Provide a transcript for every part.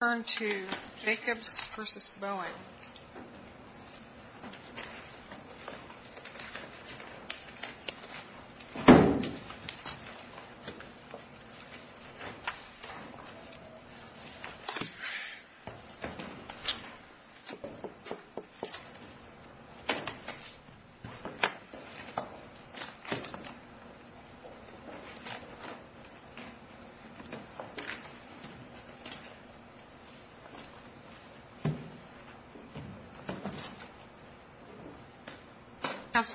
Let's turn to Jacobs v. Boeing If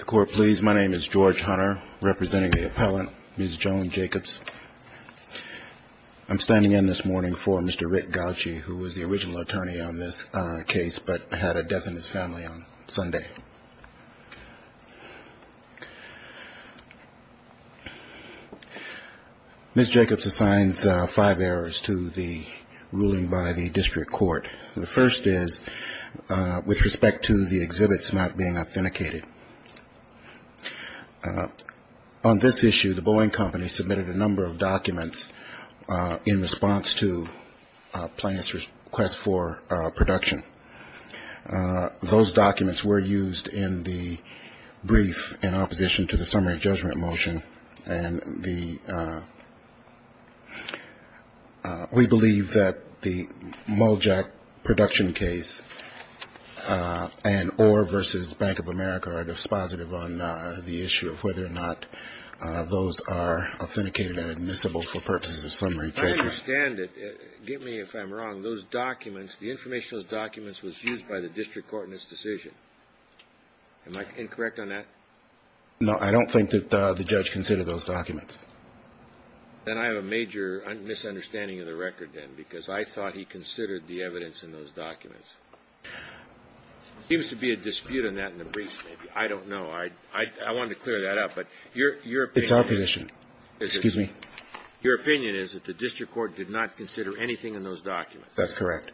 the Court please, my name is George Hunter, representing the appellant, Ms. Joan Jacobs. I'm standing in this morning for Mr. Rick Gauci, who was the original attorney on this case, but had a death in his family on Sunday. Ms. Jacobs assigns five errors to the ruling by the District Court. The first is with respect to the exhibits not being authenticated. On this issue, the Boeing Company submitted a number of documents in response to plaintiff's request for production. Those documents were used in the brief in opposition to the summary judgment motion. And the we believe that the Muljack production case and or versus Bank of America are dispositive on the issue of whether or not those are authenticated and admissible for purposes of summary judgment. I understand it. Get me if I'm wrong. Those documents, the information of those documents was used by the District Court in this decision. Am I incorrect on that? No, I don't think that the judge considered those documents. And I have a major misunderstanding of the record, then, because I thought he considered the evidence in those documents. Seems to be a dispute in that in the brief. I don't know. I wanted to clear that up. But your it's our position. Excuse me. Your opinion is that the District Court did not consider anything in those documents. That's correct.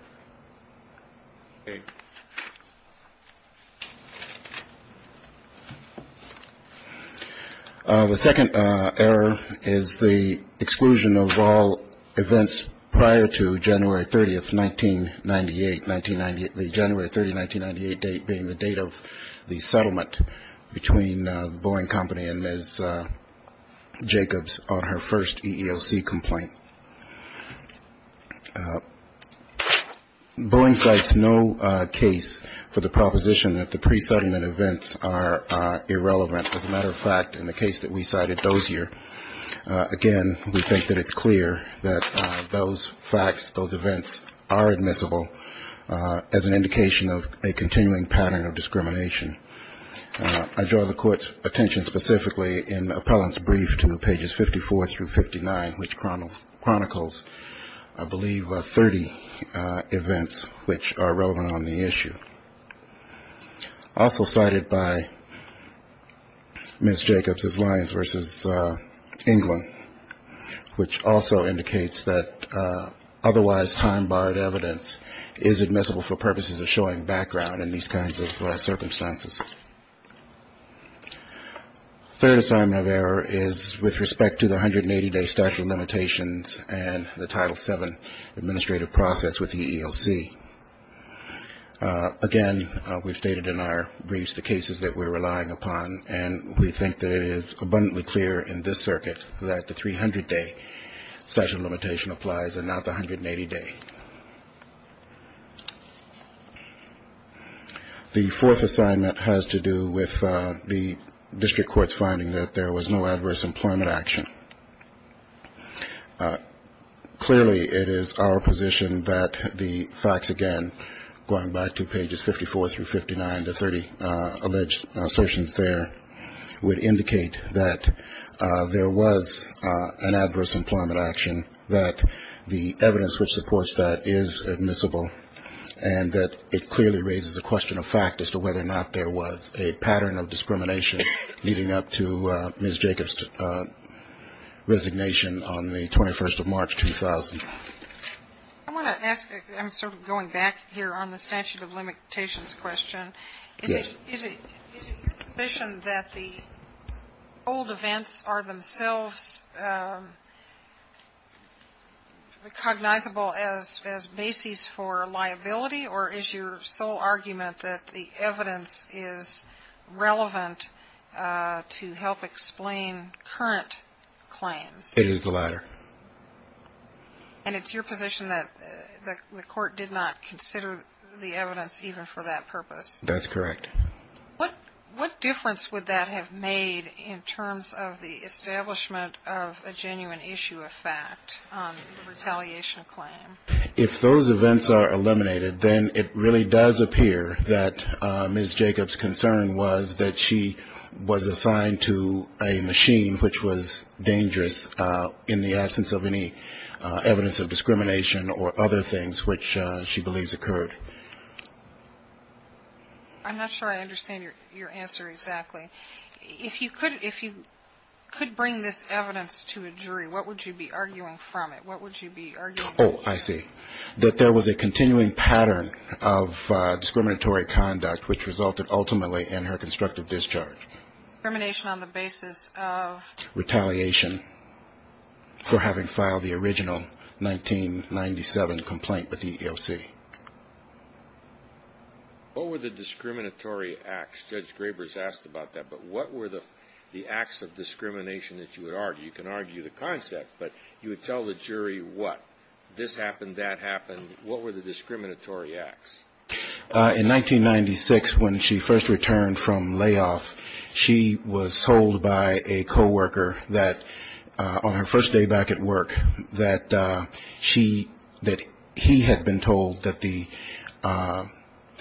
The second error is the exclusion of all events prior to January 30th, 1998. 1998, the January 30th, 1998 date being the date of the settlement between the Boeing Company and Ms. Jacobs on her first EEOC complaint. Boeing cites no case for the proposition that the pre-settlement events are irrelevant. As a matter of fact, in the case that we cited Dozier, again, we think that it's clear that those facts, those events are admissible as an indication of a continuing pattern of discrimination. I draw the court's attention specifically in the appellant's brief to pages 54 through 59, which chronicles I believe 30 events which are relevant on the issue. Also cited by Ms. Jacobs is Lyons v. England, which also indicates that otherwise time-barred evidence is admissible for purposes of showing background in these kinds of circumstances. Third assignment of error is with respect to the 180 day statute of limitations and the Title VII administrative process with the EEOC. Again, we've stated in our briefs the cases that we're relying upon, and we think that it is abundantly clear in this circuit that the 300 day statute of limitation applies and not the 180 day. The fourth assignment has to do with the district court's finding that there was no adverse employment action. Clearly, it is our position that the facts, again, going back to pages 54 through 59, the 30 alleged assertions there would indicate that there was an adverse employment action, that the evidence which supports that is admissible, and that it clearly raises the question of fact as to whether or not there was a pattern of discrimination leading up to Ms. Jacobs' resignation on the 21st of March, 2000. I want to ask, I'm sort of going back here on the statute of limitations question. Is it your position that the old events are themselves recognizable as bases for liability, or is your sole argument that the evidence is relevant to help explain current claims? It is the latter. And it's your position that the court did not consider the evidence even for that purpose? That's correct. What difference would that have made in terms of the establishment of a genuine issue of fact, a retaliation claim? If those events are eliminated, then it really does appear that Ms. Jacobs' concern was that she was assigned to a machine which was dangerous in the absence of any evidence of discrimination or other things which she believes occurred. I'm not sure I understand your answer exactly. If you could bring this evidence to a jury, what would you be arguing from it? What would you be arguing? Oh, I see. That there was a continuing pattern of discriminatory conduct which resulted ultimately in her constructive discharge. Discrimination on the basis of? Retaliation for having filed the original 1997 complaint with the EEOC. What were the discriminatory acts? Judge Grabers asked about that. But what were the acts of discrimination that you would argue? You can argue the concept, but you would tell the jury what? This happened, that happened. What were the discriminatory acts? In 1996, when she first returned from layoff, she was told by a co-worker that on her first day back at work, that he had been told that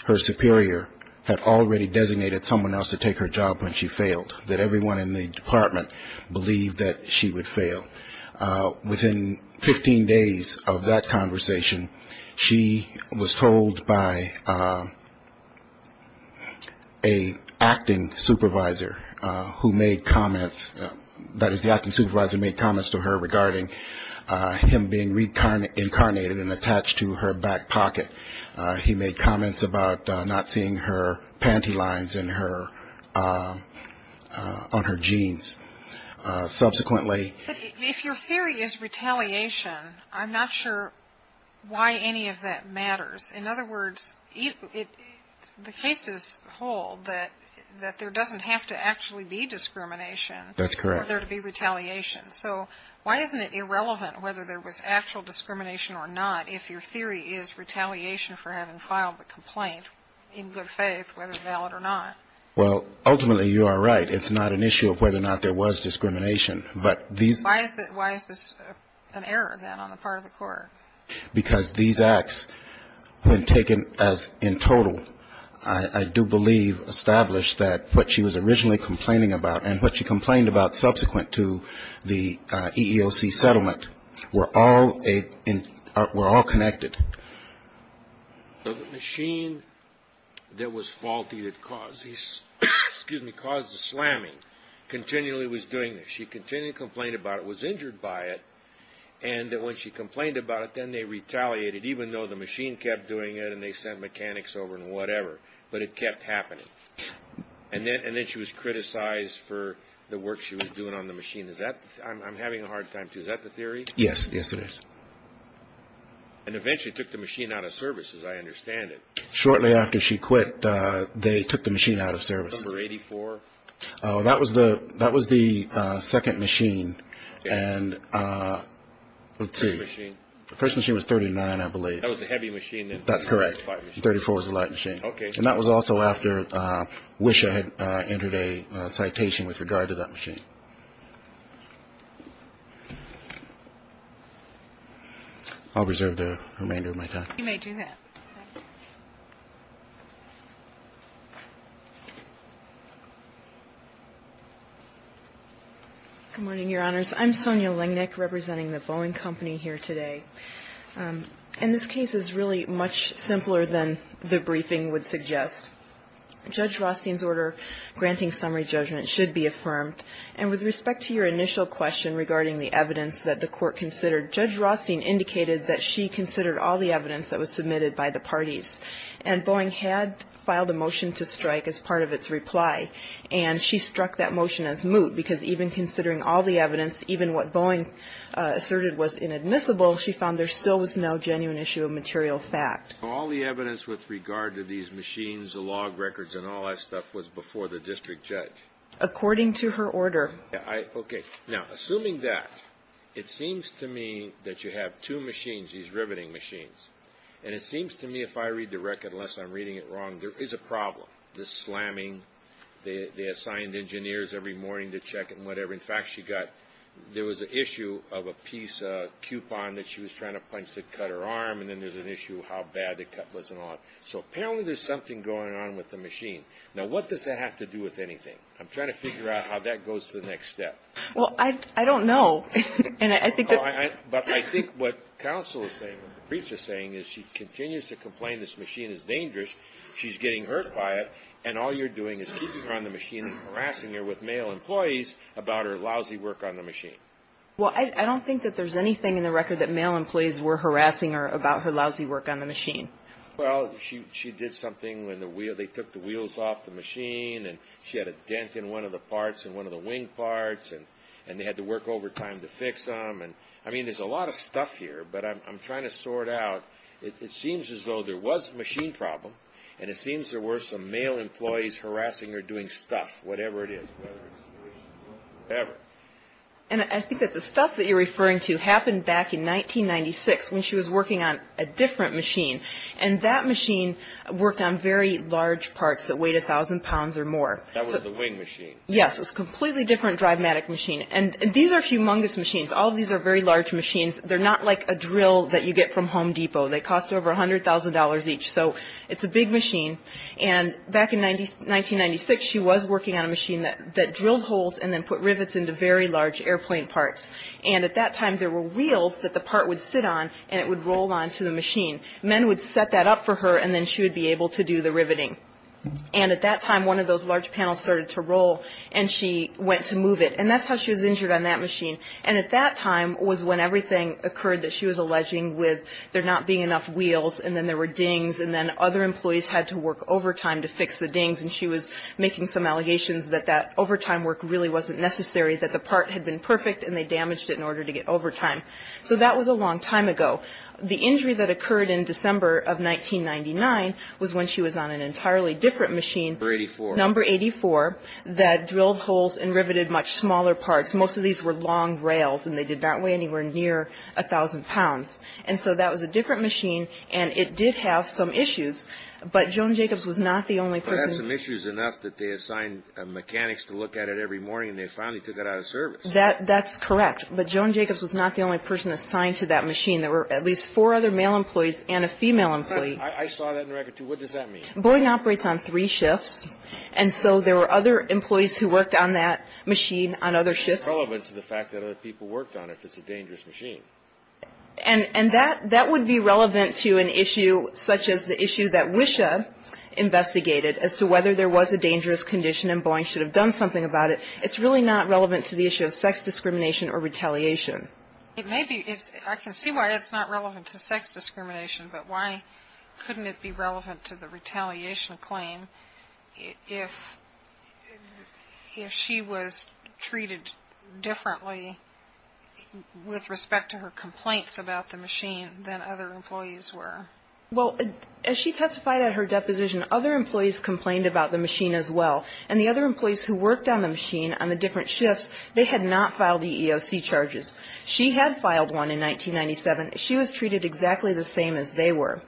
her superior had already designated someone else to take her job when she failed, that everyone in the department believed that she would fail. Within 15 days of that conversation, she was told by an acting supervisor who made comments, that is the acting supervisor made comments to her regarding him being reincarnated and attached to her back pocket. He made comments about not seeing her panty lines on her jeans. If your theory is retaliation, I'm not sure why any of that matters. In other words, the cases hold that there doesn't have to actually be discrimination for there to be retaliation. That's correct. So why isn't it irrelevant whether there was actual discrimination or not if your theory is retaliation for having filed the complaint, in good faith, whether it's valid or not? Well, ultimately you are right. It's not an issue of whether or not there was discrimination. Why is this an error, then, on the part of the court? Because these acts, when taken as in total, I do believe established that what she was originally complaining about and what she complained about subsequent to the EEOC settlement were all connected. The machine that was faulty that caused the slamming continually was doing this. She continually complained about it, was injured by it, and that when she complained about it, then they retaliated, even though the machine kept doing it and they sent mechanics over and whatever, but it kept happening. And then she was criticized for the work she was doing on the machine. I'm having a hard time, too. Is that the theory? Yes, yes, it is. And eventually took the machine out of service, as I understand it. Shortly after she quit, they took the machine out of service. Number 84? That was the second machine. And let's see. First machine was 39, I believe. That was the heavy machine. That's correct. 34 was the light machine. Okay. And that was also after Wisha entered a citation with regard to that machine. I'll reserve the remainder of my time. You may do that. Good morning, Your Honors. I'm Sonia Lingnick representing the Boeing Company here today. And this case is really much simpler than the briefing would suggest. Judge Rothstein's order granting summary judgment should be affirmed. And with respect to your initial question regarding the evidence that the court considered, Judge Rothstein indicated that she considered all the evidence that was submitted by the parties. And Boeing had filed a motion to strike as part of its reply. And she struck that motion as moot because even considering all the evidence, even what Boeing asserted was inadmissible, she found there still was no genuine issue of material fact. All the evidence with regard to these machines, the log records, and all that stuff, was before the district judge. According to her order. Okay. Now, assuming that, it seems to me that you have two machines, these riveting machines. And it seems to me if I read the record, unless I'm reading it wrong, there is a problem. The slamming, they assigned engineers every morning to check it and whatever. In fact, she got, there was an issue of a piece of coupon that she was trying to punch that cut her arm. And then there's an issue of how bad the cut wasn't on. So apparently there's something going on with the machine. Now, what does that have to do with anything? I'm trying to figure out how that goes to the next step. Well, I don't know. And I think that. But I think what counsel is saying, what the briefs are saying, is she continues to complain this machine is dangerous. She's getting hurt by it. And all you're doing is keeping her on the machine and harassing her with male employees about her lousy work on the machine. Well, I don't think that there's anything in the record that male employees were harassing her about her lousy work on the machine. Well, she did something when they took the wheels off the machine. And she had a dent in one of the parts in one of the wing parts. And they had to work overtime to fix them. And, I mean, there's a lot of stuff here. But I'm trying to sort out. It seems as though there was a machine problem. And it seems there were some male employees harassing her doing stuff, whatever it is. Whatever. And I think that the stuff that you're referring to happened back in 1996 when she was working on a different machine. And that machine worked on very large parts that weighed 1,000 pounds or more. That was the wing machine. Yes. It was a completely different drivematic machine. And these are humongous machines. All of these are very large machines. They're not like a drill that you get from Home Depot. They cost over $100,000 each. So it's a big machine. And back in 1996, she was working on a machine that drilled holes and then put rivets into very large airplane parts. And at that time, there were wheels that the part would sit on and it would roll onto the machine. Men would set that up for her and then she would be able to do the riveting. And at that time, one of those large panels started to roll and she went to move it. And that's how she was injured on that machine. And at that time was when everything occurred that she was alleging with there not being enough wheels. And then there were dings and then other employees had to work overtime to fix the dings. And she was making some allegations that that overtime work really wasn't necessary, that the part had been perfect and they damaged it in order to get overtime. So that was a long time ago. The injury that occurred in December of 1999 was when she was on an entirely different machine. Number 84. Number 84 that drilled holes and riveted much smaller parts. Most of these were long rails and they did not weigh anywhere near 1,000 pounds. And so that was a different machine and it did have some issues. But Joan Jacobs was not the only person. It had some issues enough that they assigned mechanics to look at it every morning and they finally took it out of service. That's correct. But Joan Jacobs was not the only person assigned to that machine. There were at least four other male employees and a female employee. I saw that in the record, too. What does that mean? Boyden operates on three shifts. And so there were other employees who worked on that machine on other shifts. It's not relevant to the fact that other people worked on it if it's a dangerous machine. And that would be relevant to an issue such as the issue that WISHA investigated as to whether there was a dangerous condition and Boeing should have done something about it. It's really not relevant to the issue of sex discrimination or retaliation. I can see why it's not relevant to sex discrimination, but why couldn't it be relevant to the retaliation claim if she was treated differently with respect to her complaints about the machine than other employees were? Well, as she testified at her deposition, other employees complained about the machine as well. And the other employees who worked on the machine on the different shifts, they had not filed EEOC charges. She had filed one in 1997. She was treated exactly the same as they were.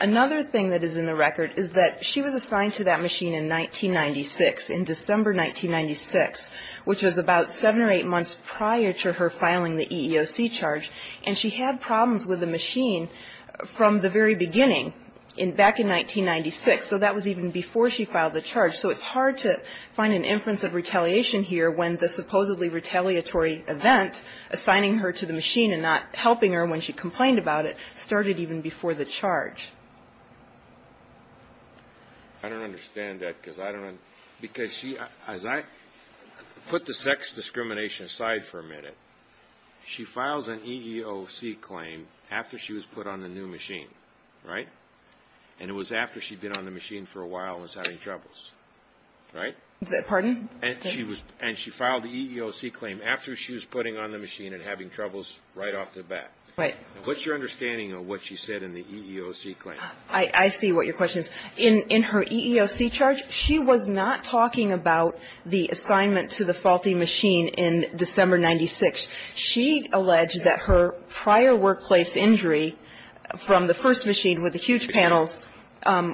Another thing that is in the record is that she was assigned to that machine in 1996, in December 1996, which was about seven or eight months prior to her filing the EEOC charge. And she had problems with the machine from the very beginning, back in 1996. So that was even before she filed the charge. So it's hard to find an inference of retaliation here when the supposedly retaliatory event, which is assigning her to the machine and not helping her when she complained about it, started even before the charge. I don't understand that because I don't know. Because she, as I put the sex discrimination aside for a minute, she files an EEOC claim after she was put on the new machine, right? And it was after she'd been on the machine for a while and was having troubles, right? Pardon? And she filed the EEOC claim after she was putting on the machine and having troubles right off the bat. Right. What's your understanding of what she said in the EEOC claim? I see what your question is. In her EEOC charge, she was not talking about the assignment to the faulty machine in December 1996. She alleged that her prior workplace injury from the first machine with the huge panels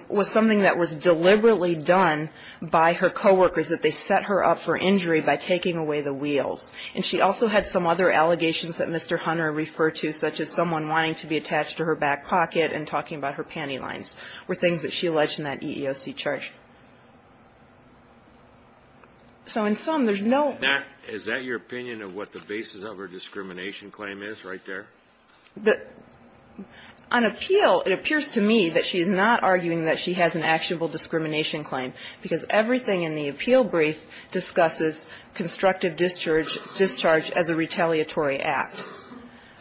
was something that was deliberately done by her coworkers, that they set her up for injury by taking away the wheels. And she also had some other allegations that Mr. Hunter referred to, such as someone wanting to be attached to her back pocket and talking about her panty lines were things that she alleged in that EEOC charge. So in sum, there's no ---- Is that your opinion of what the basis of her discrimination claim is right there? On appeal, it appears to me that she's not arguing that she has an actionable discrimination claim because everything in the appeal brief discusses constructive discharge as a retaliatory act.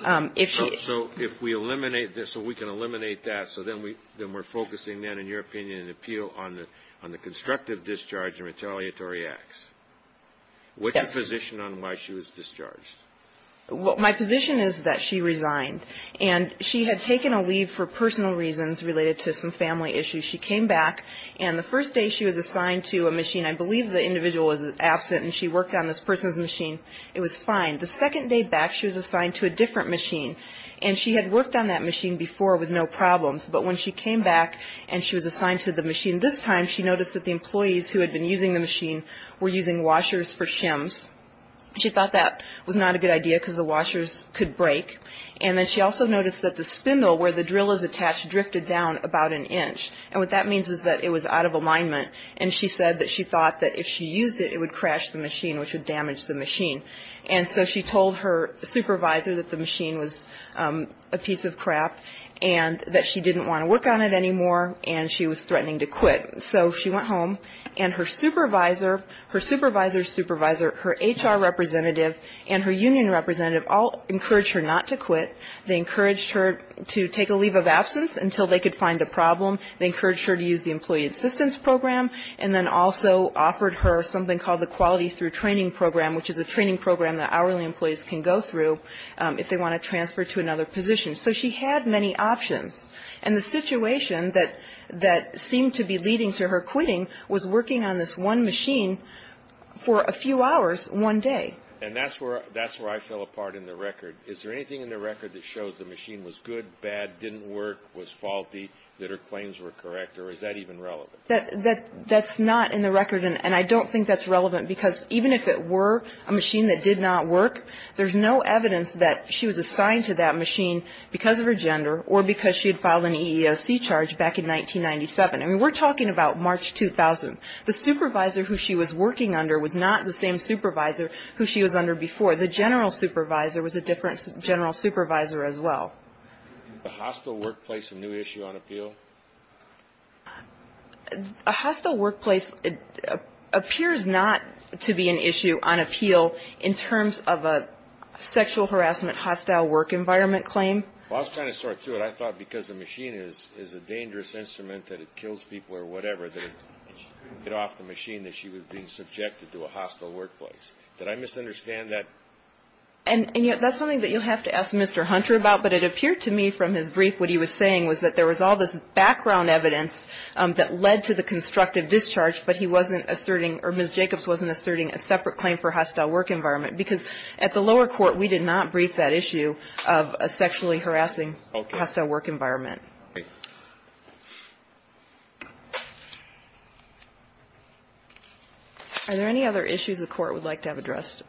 So if we eliminate this, so we can eliminate that, so then we're focusing then, in your opinion, an appeal on the constructive discharge and retaliatory acts. Yes. What's your position on why she was discharged? My position is that she resigned. And she had taken a leave for personal reasons related to some family issues. She came back, and the first day she was assigned to a machine. I believe the individual was absent, and she worked on this person's machine. It was fine. The second day back, she was assigned to a different machine, and she had worked on that machine before with no problems. But when she came back and she was assigned to the machine this time, she noticed that the employees who had been using the machine were using washers for shims. She thought that was not a good idea because the washers could break. And then she also noticed that the spindle where the drill is attached drifted down about an inch. And what that means is that it was out of alignment, and she said that she thought that if she used it, it would crash the machine, which would damage the machine. And so she told her supervisor that the machine was a piece of crap and that she didn't want to work on it anymore, and she was threatening to quit. So she went home, and her supervisor, her supervisor's supervisor, her HR representative, and her union representative all encouraged her not to quit. They encouraged her to take a leave of absence until they could find a problem. They encouraged her to use the Employee Assistance Program, and then also offered her something called the Quality Through Training Program, which is a training program that hourly employees can go through if they want to transfer to another position. So she had many options, and the situation that seemed to be leading to her quitting was working on this one machine for a few hours one day. And that's where I fell apart in the record. Is there anything in the record that shows the machine was good, bad, didn't work, was faulty, that her claims were correct, or is that even relevant? That's not in the record, and I don't think that's relevant, because even if it were a machine that did not work, there's no evidence that she was assigned to that machine because of her gender or because she had filed an EEOC charge back in 1997. I mean, we're talking about March 2000. The supervisor who she was working under was not the same supervisor who she was under before. The general supervisor was a different general supervisor as well. Is the hostile workplace a new issue on appeal? A hostile workplace appears not to be an issue on appeal in terms of a sexual harassment hostile work environment claim. Well, I was trying to sort through it. I thought because the machine is a dangerous instrument that it kills people or whatever, that it would get off the machine that she was being subjected to a hostile workplace. Did I misunderstand that? And that's something that you'll have to ask Mr. Hunter about, but it appeared to me from his brief what he was saying was that there was all this background evidence that led to the constructive discharge, but he wasn't asserting or Ms. Jacobs wasn't asserting a separate claim for hostile work environment, because at the lower court we did not brief that issue of a sexually harassing hostile work environment. Are there any other issues the court would like to have addressed?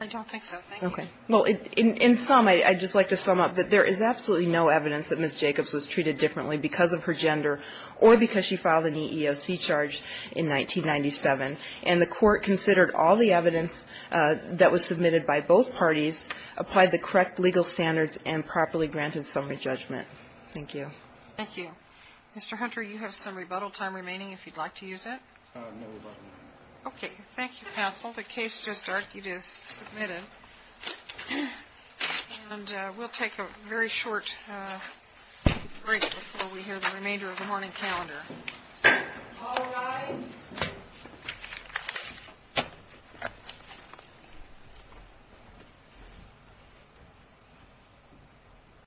I don't think so. Okay. Well, in sum, I'd just like to sum up that there is absolutely no evidence that Ms. Jacobs was treated differently because of her gender or because she filed an EEOC charge in 1997. And the court considered all the evidence that was submitted by both parties, applied the correct legal standards, and properly granted summary judgment. Thank you. Thank you. Mr. Hunter, you have some rebuttal time remaining if you'd like to use it. No rebuttal. Okay. Thank you, counsel. The case just argued is submitted. And we'll take a very short break before we hear the remainder of the morning calendar. All rise.